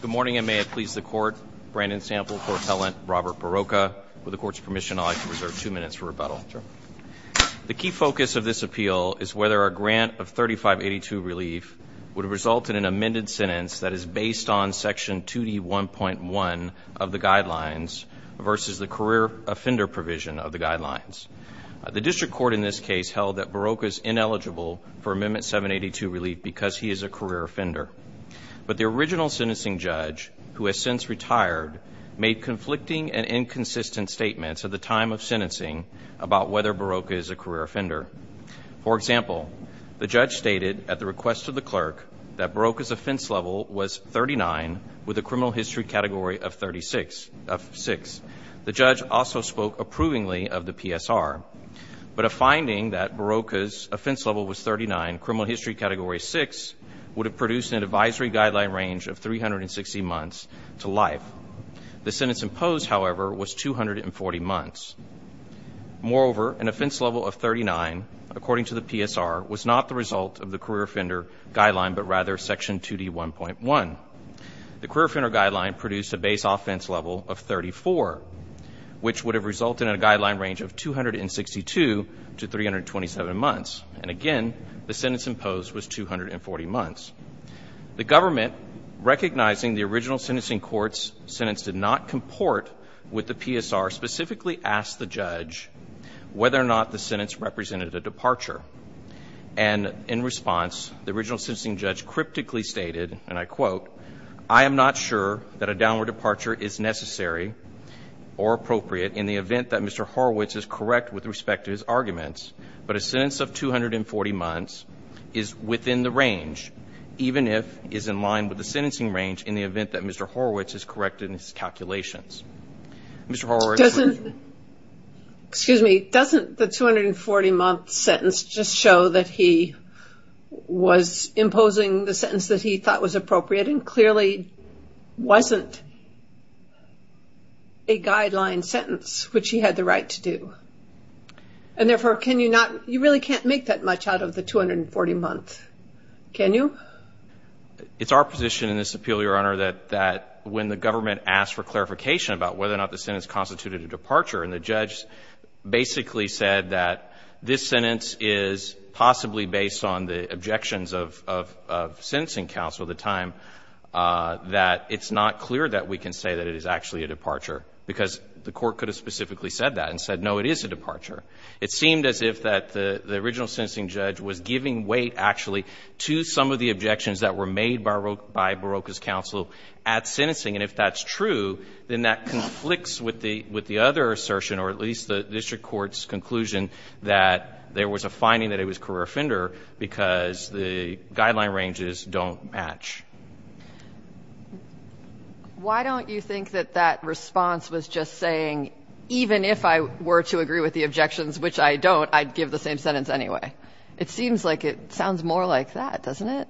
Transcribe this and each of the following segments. Good morning and may it please the Court. Brandon Sample, Court Appellant, Robert Barroca. With the Court's permission, I'd like to reserve two minutes for rebuttal. Sure. The key focus of this appeal is whether a grant of 3582 relief would result in an amended sentence that is based on Section 2D1.1 of the Guidelines versus the career offender provision of the Guidelines. The District Court in this case held that Barroca is ineligible for Amendment 782 relief because he is a career offender. But the original sentencing judge, who has since retired, made conflicting and inconsistent statements at the time of sentencing about whether Barroca is a career offender. For example, the judge stated at the request of the clerk that Barroca's offense level was 39 with a criminal history category of 6. The judge also spoke approvingly of the PSR. But a finding that Barroca's offense level was 39, criminal history category 6, would have produced an advisory guideline range of 360 months to life. The sentence imposed, however, was 240 months. Moreover, an offense level of 39, according to the PSR, was not the result of the career offender guideline, but rather Section 2D1.1. The career offender guideline produced a base offense level of 34, which would have resulted in a guideline range of 262 to 327 months. And again, the sentence imposed was 240 months. The government, recognizing the original sentencing court's sentence did not comport with the PSR, specifically asked the judge whether or not the sentence represented a departure. And in response, the original sentencing judge cryptically stated, and I quote, I am not sure that a downward departure is necessary or appropriate in the event that Mr. Horowitz is correct with respect to his arguments, but a sentence of 240 months is within the range, even if it is in line with the sentencing range in the event that Mr. Horowitz has corrected his calculations. Mr. Horowitz. Excuse me. Doesn't the 240-month sentence just show that he was imposing the sentence that he thought was appropriate and clearly wasn't a guideline sentence, which he had the right to do? And therefore, you really can't make that much out of the 240 months, can you? It's our position in this appeal, Your Honor, that when the government asked for clarification about whether or not the sentence constituted a departure, and the judge basically said that this sentence is possibly based on the objections of sentencing counsel at the time, that it's not clear that we can say that it is actually a departure, because the court could have specifically said that and said, no, it is a departure. It seemed as if the original sentencing judge was giving weight, actually, to some of the objections that were made by Baroka's counsel at sentencing. And if that's true, then that conflicts with the other assertion, or at least the district court's conclusion, that there was a finding that it was career offender because the guideline ranges don't match. Why don't you think that that response was just saying, even if I were to agree with the objections, which I don't, I'd give the same sentence anyway? It seems like it sounds more like that, doesn't it?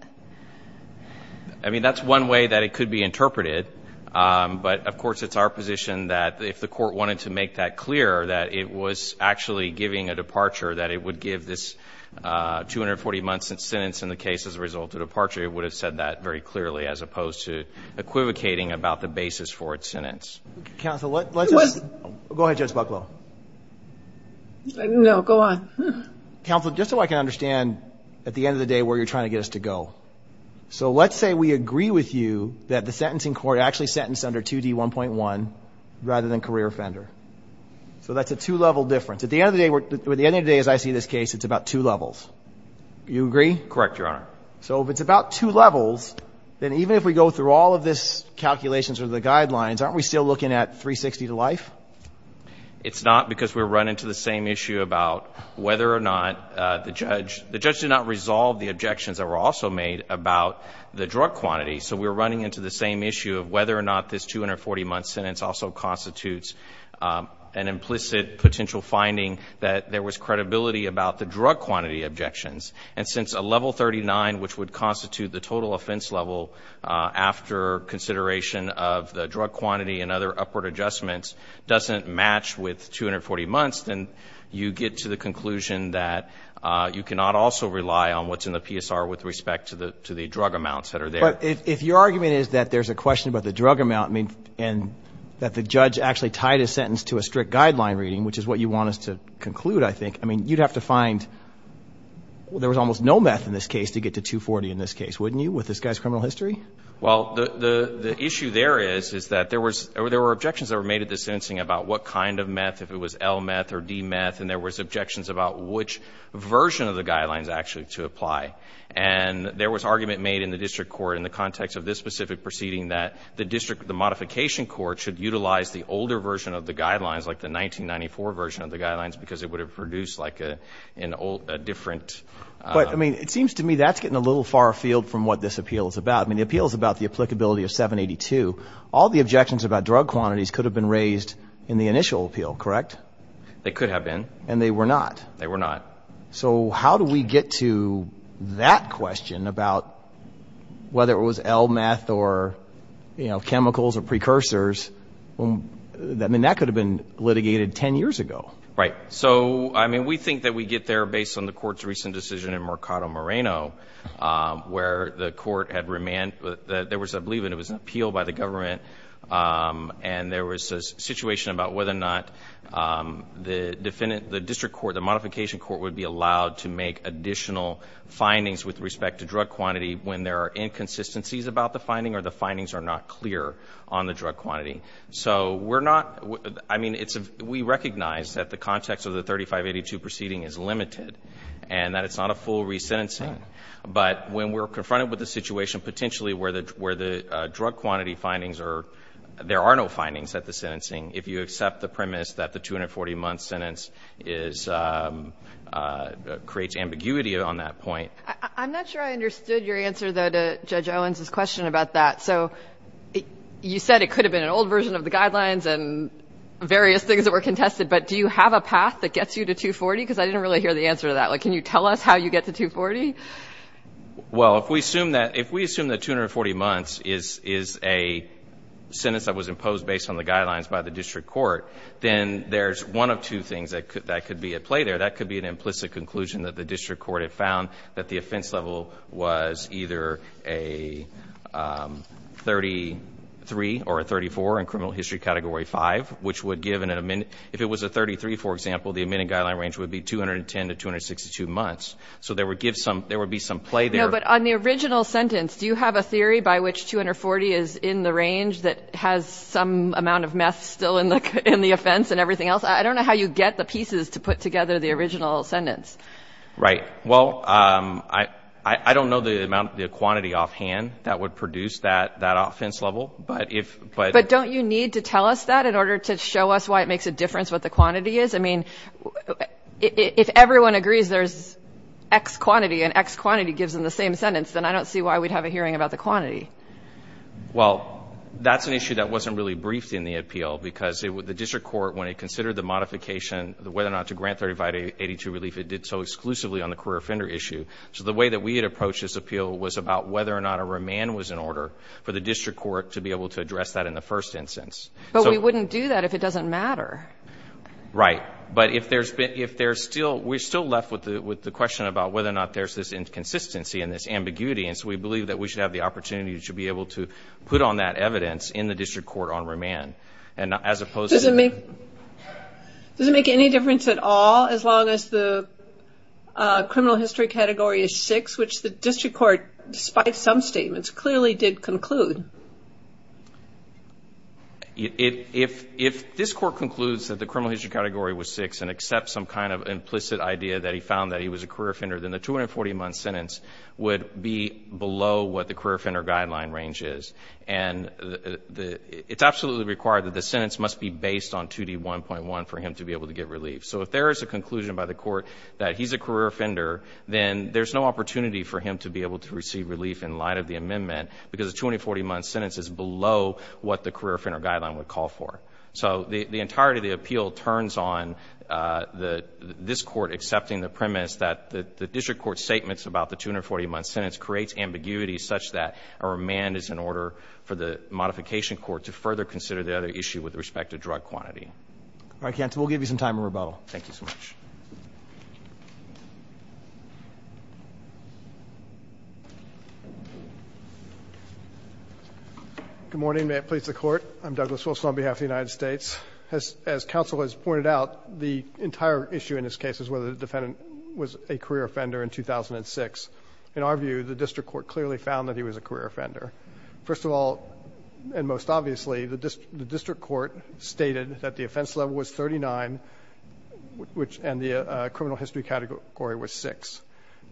I mean, that's one way that it could be interpreted. But, of course, it's our position that if the court wanted to make that clear, that it was actually giving a departure, that it would give this 240-month sentence in the case as a result of departure, it would have said that very clearly as opposed to equivocating about the basis for its sentence. Counsel, let's just – go ahead, Judge Bucklow. No, go on. Counsel, just so I can understand, at the end of the day, where you're trying to get us to go. So let's say we agree with you that the sentencing court actually sentenced under 2D1.1 rather than career offender. So that's a two-level difference. At the end of the day, as I see this case, it's about two levels. Do you agree? Correct, Your Honor. So if it's about two levels, then even if we go through all of these calculations or the guidelines, aren't we still looking at 360 to life? It's not because we're running to the same issue about whether or not the judge – the judge did not resolve the objections that were also made about the drug quantity. So we're running into the same issue of whether or not this 240-month sentence also constitutes an implicit potential finding that there was credibility about the drug quantity objections. And since a level 39, which would constitute the total offense level after consideration of the drug quantity and other upward adjustments, doesn't match with 240 months, then you get to the conclusion that you cannot also rely on what's in the PSR with respect to the drug amounts that are there. But if your argument is that there's a question about the drug amount and that the judge actually tied his sentence to a strict guideline reading, which is what you want us to conclude, I think, I mean, you'd have to find – there was almost no meth in this case to get to 240 in this case, wouldn't you, with this guy's criminal history? Well, the issue there is is that there was – there were objections that were made at the sentencing about what kind of meth, if it was L meth or D meth, and there was objections about which version of the guidelines actually to apply. And there was argument made in the district court in the context of this specific proceeding that the district – the modification court should utilize the older version of the guidelines, like the 1994 version of the guidelines, because it would have produced, like, a different – But, I mean, it seems to me that's getting a little far afield from what this appeal is about. I mean, the appeal is about the applicability of 782. All the objections about drug quantities could have been raised in the initial appeal, correct? They could have been. And they were not? They were not. So how do we get to that question about whether it was L meth or, you know, chemicals or precursors? I mean, that could have been litigated 10 years ago. Right. So, I mean, we think that we get there based on the court's recent decision in Mercado Moreno, where the court had remanded – there was, I believe, it was an appeal by the government, and there was a situation about whether or not the defendant – the district court, the modification court would be allowed to make additional findings with respect to drug quantity when there are inconsistencies about the finding or the findings are not clear on the drug quantity. So we're not – I mean, it's – we recognize that the context of the 3582 proceeding is limited and that it's not a full resentencing. But when we're confronted with a situation potentially where the drug quantity findings are – there are no findings at the sentencing, if you accept the premise that the 240-month sentence is – creates ambiguity on that point. I'm not sure I understood your answer, though, to Judge Owens' question about that. So you said it could have been an old version of the guidelines and various things that were contested, but do you have a path that gets you to 240? Because I didn't really hear the answer to that. Like, can you tell us how you get to 240? Well, if we assume that – if we assume that 240 months is a sentence that was imposed based on the guidelines by the district court, then there's one of two things that could be at play there. That could be an implicit conclusion that the district court had found that the offense level was either a 33 or a 34 in criminal history category 5, which would give an – if it was a 33, for example, the admitting guideline range would be 210 to 262 months. So there would give some – there would be some play there. No, but on the original sentence, do you have a theory by which 240 is in the range that has some amount of meth still in the offense and everything else? I don't know how you get the pieces to put together the original sentence. Right. Well, I don't know the amount – the quantity offhand that would produce that offense level, but if – But don't you need to tell us that in order to show us why it makes a difference what the quantity is? I mean, if everyone agrees there's X quantity and X quantity gives them the same sentence, then I don't see why we'd have a hearing about the quantity. Well, that's an issue that wasn't really briefed in the appeal because the district court, when it considered the modification, whether or not to grant 35 to 82 relief, it did so exclusively on the career offender issue. So the way that we had approached this appeal was about whether or not a remand was in order for the district court to be able to address that in the first instance. But we wouldn't do that if it doesn't matter. Right. But if there's still – we're still left with the question about whether or not there's this inconsistency and this ambiguity, and so we believe that we should have the opportunity to be able to put on that evidence in the district court on remand. And as opposed to – Does it make any difference at all as long as the criminal history category is six, which the district court, despite some statements, clearly did conclude? If this Court concludes that the criminal history category was six and accepts some kind of implicit idea that he found that he was a career offender, then the 240-month sentence would be below what the career offender guideline range is. And it's absolutely required that the sentence must be based on 2D1.1 for him to be able to get relief. So if there is a conclusion by the Court that he's a career offender, then there's no opportunity for him to be able to receive relief in light of the amendment because the 240-month sentence is below what the career offender guideline would call for. So the entirety of the appeal turns on this Court accepting the premise that the district court statements about the 240-month sentence creates ambiguity such that a remand is in order for the modification court to further consider the other issue with respect to drug quantity. All right, counsel. We'll give you some time in rebuttal. Thank you so much. Good morning. May it please the Court. I'm Douglas Wilson on behalf of the United States. As counsel has pointed out, the entire issue in this case is whether the defendant was a career offender in 2006. In our view, the district court clearly found that he was a career offender. First of all, and most obviously, the district court stated that the offense level was 39 and the criminal history category was 6.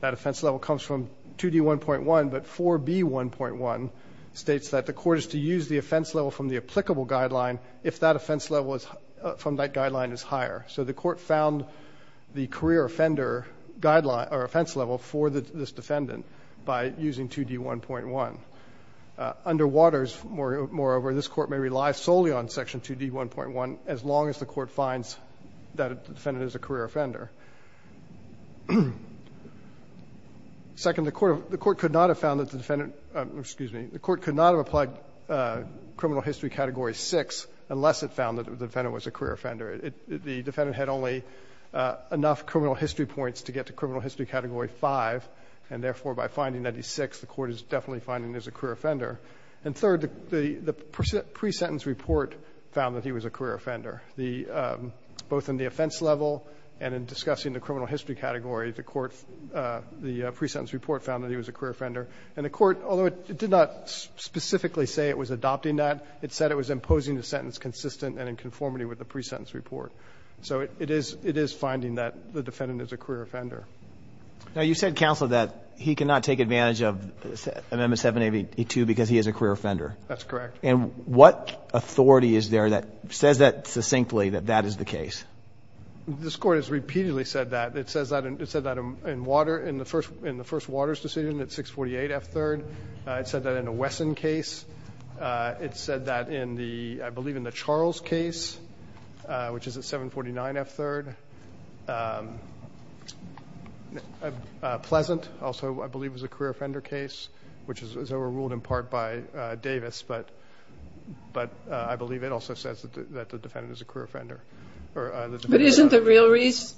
That offense level comes from 2D1.1, but 4B1.1 states that the court is to use the offense level from the applicable guideline if that offense level from that guideline is higher. So the court found the career offender offense level for this defendant by using 2D1.1. Underwaters, moreover, this court may rely solely on Section 2D1.1 as long as the court finds that the defendant is a career offender. Second, the court could not have found that the defendant, excuse me, the court could not have applied criminal history category 6 unless it found that the defendant was a career offender. The defendant had only enough criminal history points to get to criminal history category 5, and therefore by finding that he's 6, the court is definitely finding that he's a career offender. And third, the pre-sentence report found that he was a career offender, both in the offense level and in discussing the criminal history category, the court, the pre-sentence report found that he was a career offender. And the court, although it did not specifically say it was adopting that, it said it was imposing the sentence consistent and in conformity with the pre-sentence report. So it is finding that the defendant is a career offender. Now, you said, Counselor, that he cannot take advantage of Amendment 782 because he is a career offender. That's correct. And what authority is there that says that succinctly, that that is the case? This Court has repeatedly said that. It says that in the first Waters decision at 648 F. 3rd. It said that in the Wesson case. It said that in the, I believe, in the Charles case, which is at 749 F. 3rd. Pleasant also, I believe, was a career offender case, which was overruled in part by Davis. But I believe it also says that the defendant is a career offender. But isn't the real reason,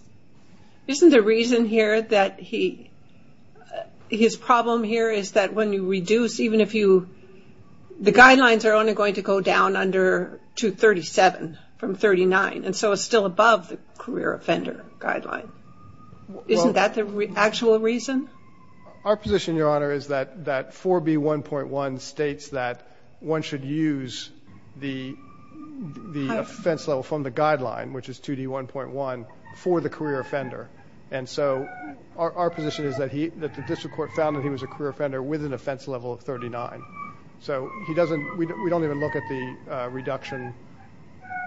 isn't the reason here that his problem here is that when you reduce, even if you, the guidelines are only going to go down under 237 from 39. And so it's still above the career offender guideline. Isn't that the actual reason? Our position, Your Honor, is that 4B1.1 states that one should use the offense level from the guideline, which is 2D1.1, for the career offender. And so our position is that he, that the district court found that he was a career offender with an offense level of 39. So he doesn't, we don't even look at the reduction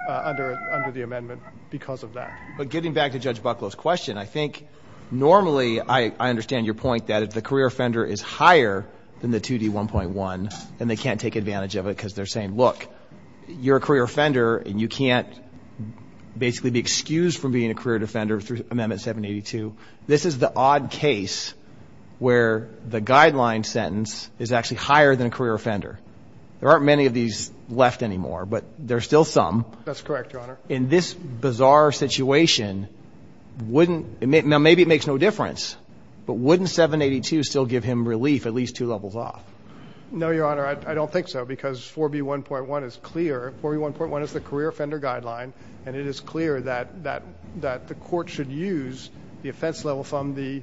under the amendment because of that. But getting back to Judge Bucklow's question, I think normally I understand your point that if the career offender is higher than the 2D1.1, then they can't take advantage of it because they're saying, look, you're a career offender and you can't basically be excused from being a career offender through Amendment 782. This is the odd case where the guideline sentence is actually higher than a career offender. There aren't many of these left anymore, but there are still some. That's correct, Your Honor. In this bizarre situation, wouldn't, maybe it makes no difference, but wouldn't 782 still give him relief at least two levels off? No, Your Honor. I don't think so because 4B1.1 is clear. 4B1.1 is the career offender guideline, and it is clear that the court should use the offense level from the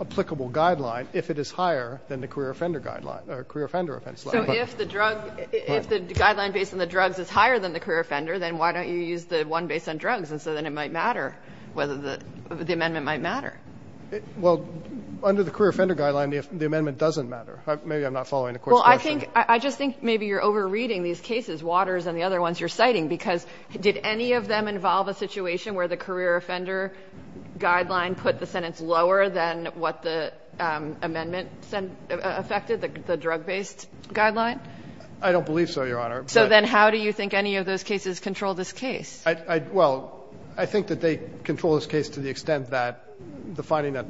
applicable guideline if it is higher than the career offender guideline, career offender offense level. So if the drug, if the guideline based on the drugs is higher than the career offender, then why don't you use the one based on drugs? And so then it might matter whether the amendment might matter. Well, under the career offender guideline, the amendment doesn't matter. Maybe I'm not following the court's question. Well, I think, I just think maybe you're overreading these cases, Waters and the other ones you're citing, because did any of them involve a situation where the career offender guideline put the sentence lower than what the amendment affected, the drug-based guideline? I don't believe so, Your Honor. So then how do you think any of those cases control this case? I, well, I think that they control this case to the extent that the finding that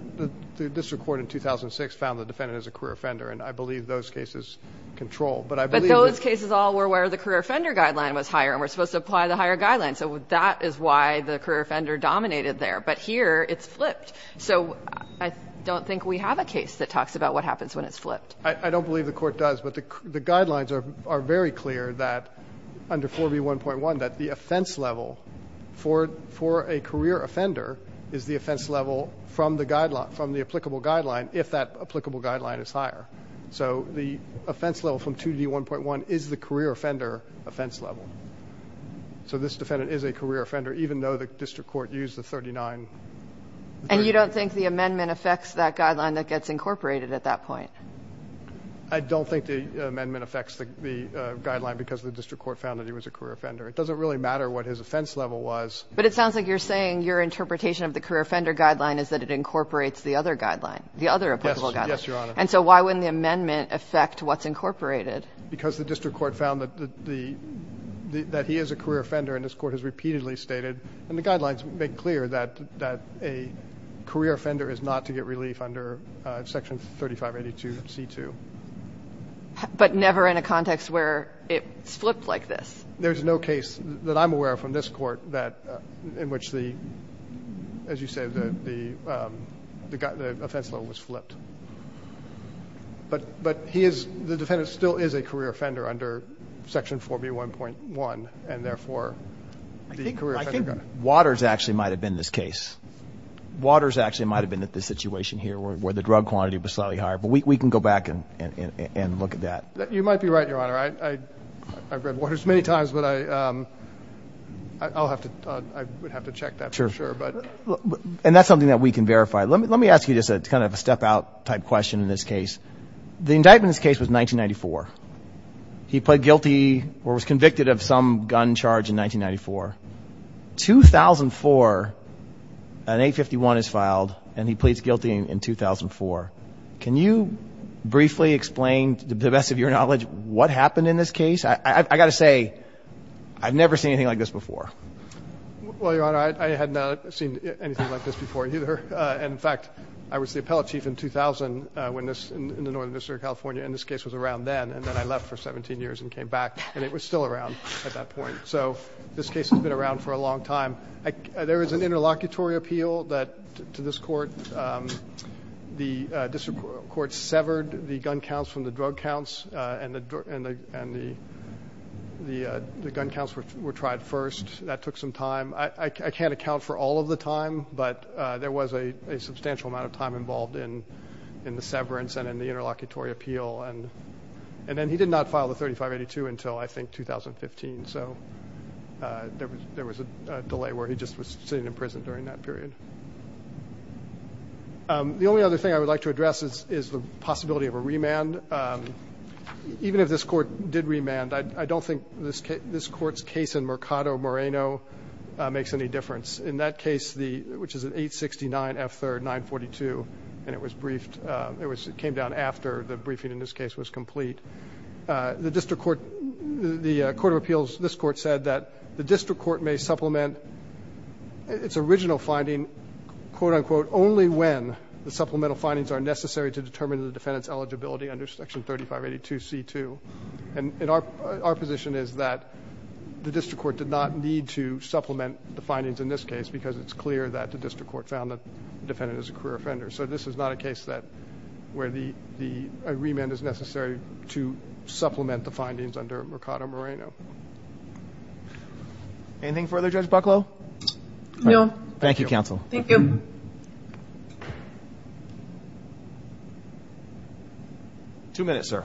the district court in 2006 found the defendant as a career offender, and I believe those cases control. But I believe that. But those cases all were where the career offender guideline was higher, and we're supposed to apply the higher guideline. So that is why the career offender dominated there. But here it's flipped. So I don't think we have a case that talks about what happens when it's flipped. I don't believe the court does. But the guidelines are very clear that under 4B1.1 that the offense level for a career offender is the offense level from the applicable guideline if that applicable guideline is higher. So the offense level from 2B1.1 is the career offender offense level. So this defendant is a career offender even though the district court used the 39. And you don't think the amendment affects that guideline that gets incorporated at that point? I don't think the amendment affects the guideline because the district court found that he was a career offender. It doesn't really matter what his offense level was. But it sounds like you're saying your interpretation of the career offender guideline is that it incorporates the other guideline, the other applicable guideline. Yes, Your Honor. And so why wouldn't the amendment affect what's incorporated? Because the district court found that he is a career offender, and this court has repeatedly stated, and the guidelines make clear, that a career offender is not to get relief under Section 3582C2. But never in a context where it's flipped like this. There's no case that I'm aware of from this court in which the, as you said, the offense level was flipped. But he is, the defendant still is a career offender under Section 4B1.1, and therefore the career offender guideline. I think Waters actually might have been this case. Waters actually might have been at this situation here where the drug quantity was slightly higher. But we can go back and look at that. You might be right, Your Honor. I've read Waters many times, but I would have to check that for sure. And that's something that we can verify. Let me ask you just kind of a step-out type question in this case. The indictment in this case was 1994. He pled guilty or was convicted of some gun charge in 1994. 2004, an 851 is filed, and he pleads guilty in 2004. Can you briefly explain, to the best of your knowledge, what happened in this case? I've got to say, I've never seen anything like this before. Well, Your Honor, I had not seen anything like this before either. And, in fact, I was the appellate chief in 2000 in the Northern District of California, and this case was around then. And then I left for 17 years and came back, and it was still around at that point. So this case has been around for a long time. There was an interlocutory appeal to this court. The district court severed the gun counts from the drug counts, and the gun counts were tried first. That took some time. I can't account for all of the time, but there was a substantial amount of time involved in the severance and in the interlocutory appeal. And then he did not file the 3582 until, I think, 2015. So there was a delay where he just was sitting in prison during that period. The only other thing I would like to address is the possibility of a remand. Even if this court did remand, I don't think this court's case in Mercado Moreno makes any difference. In that case, which is an 869 F3rd 942, and it was briefed. It came down after the briefing in this case was complete. The court of appeals, this court, said that the district court may supplement its original finding, quote, unquote, only when the supplemental findings are necessary to determine the defendant's eligibility under Section 3582C2. And our position is that the district court did not need to supplement the findings in this case because it's clear that the district court found the defendant is a career offender. So this is not a case where a remand is necessary to supplement the findings under Mercado Moreno. Anything further, Judge Bucklow? Thank you, counsel. Thank you. Two minutes, sir.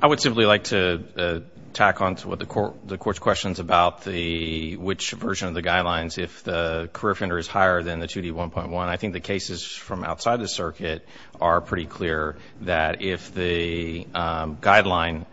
I would simply like to tack on to what the court's questions about which version of the guidelines, if the career offender is higher than the 2D1.1. I think the cases from outside the circuit are pretty clear that if the guideline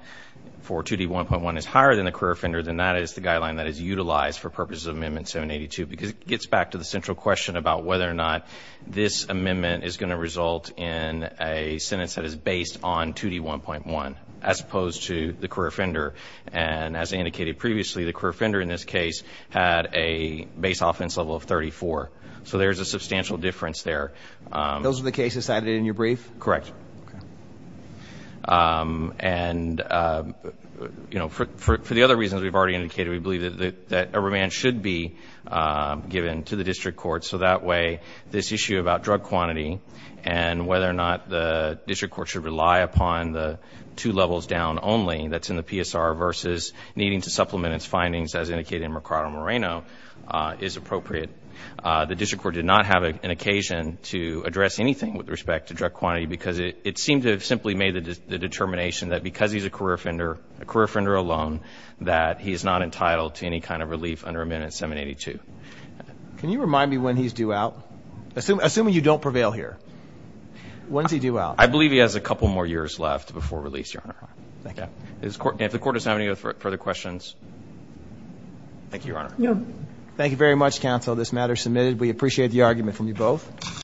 for 2D1.1 is higher than the career offender, then that is the guideline that is utilized for purposes of Amendment 782 because it gets back to the central question about whether or not this amendment is going to result in a sentence that is based on 2D1.1 as opposed to the career offender. And as I indicated previously, the career offender in this case had a base offense level of 34. So there is a substantial difference there. Those are the cases added in your brief? Correct. Okay. And, you know, for the other reasons we've already indicated, we believe that a remand should be given to the district court so that way this issue about drug quantity and whether or not the district court should rely upon the two levels down only that's in the PSR versus needing to supplement its findings as indicated in Mercado Moreno is appropriate. The district court did not have an occasion to address anything with respect to drug quantity because it seemed to have simply made the determination that because he's a career offender, a career offender alone, that he is not entitled to any kind of relief under Amendment 782. Can you remind me when he's due out? Assuming you don't prevail here, when is he due out? I believe he has a couple more years left before release, Your Honor. Thank you. If the court does not have any further questions, thank you, Your Honor. Thank you very much, counsel. This matter is submitted. We appreciate the argument from you both.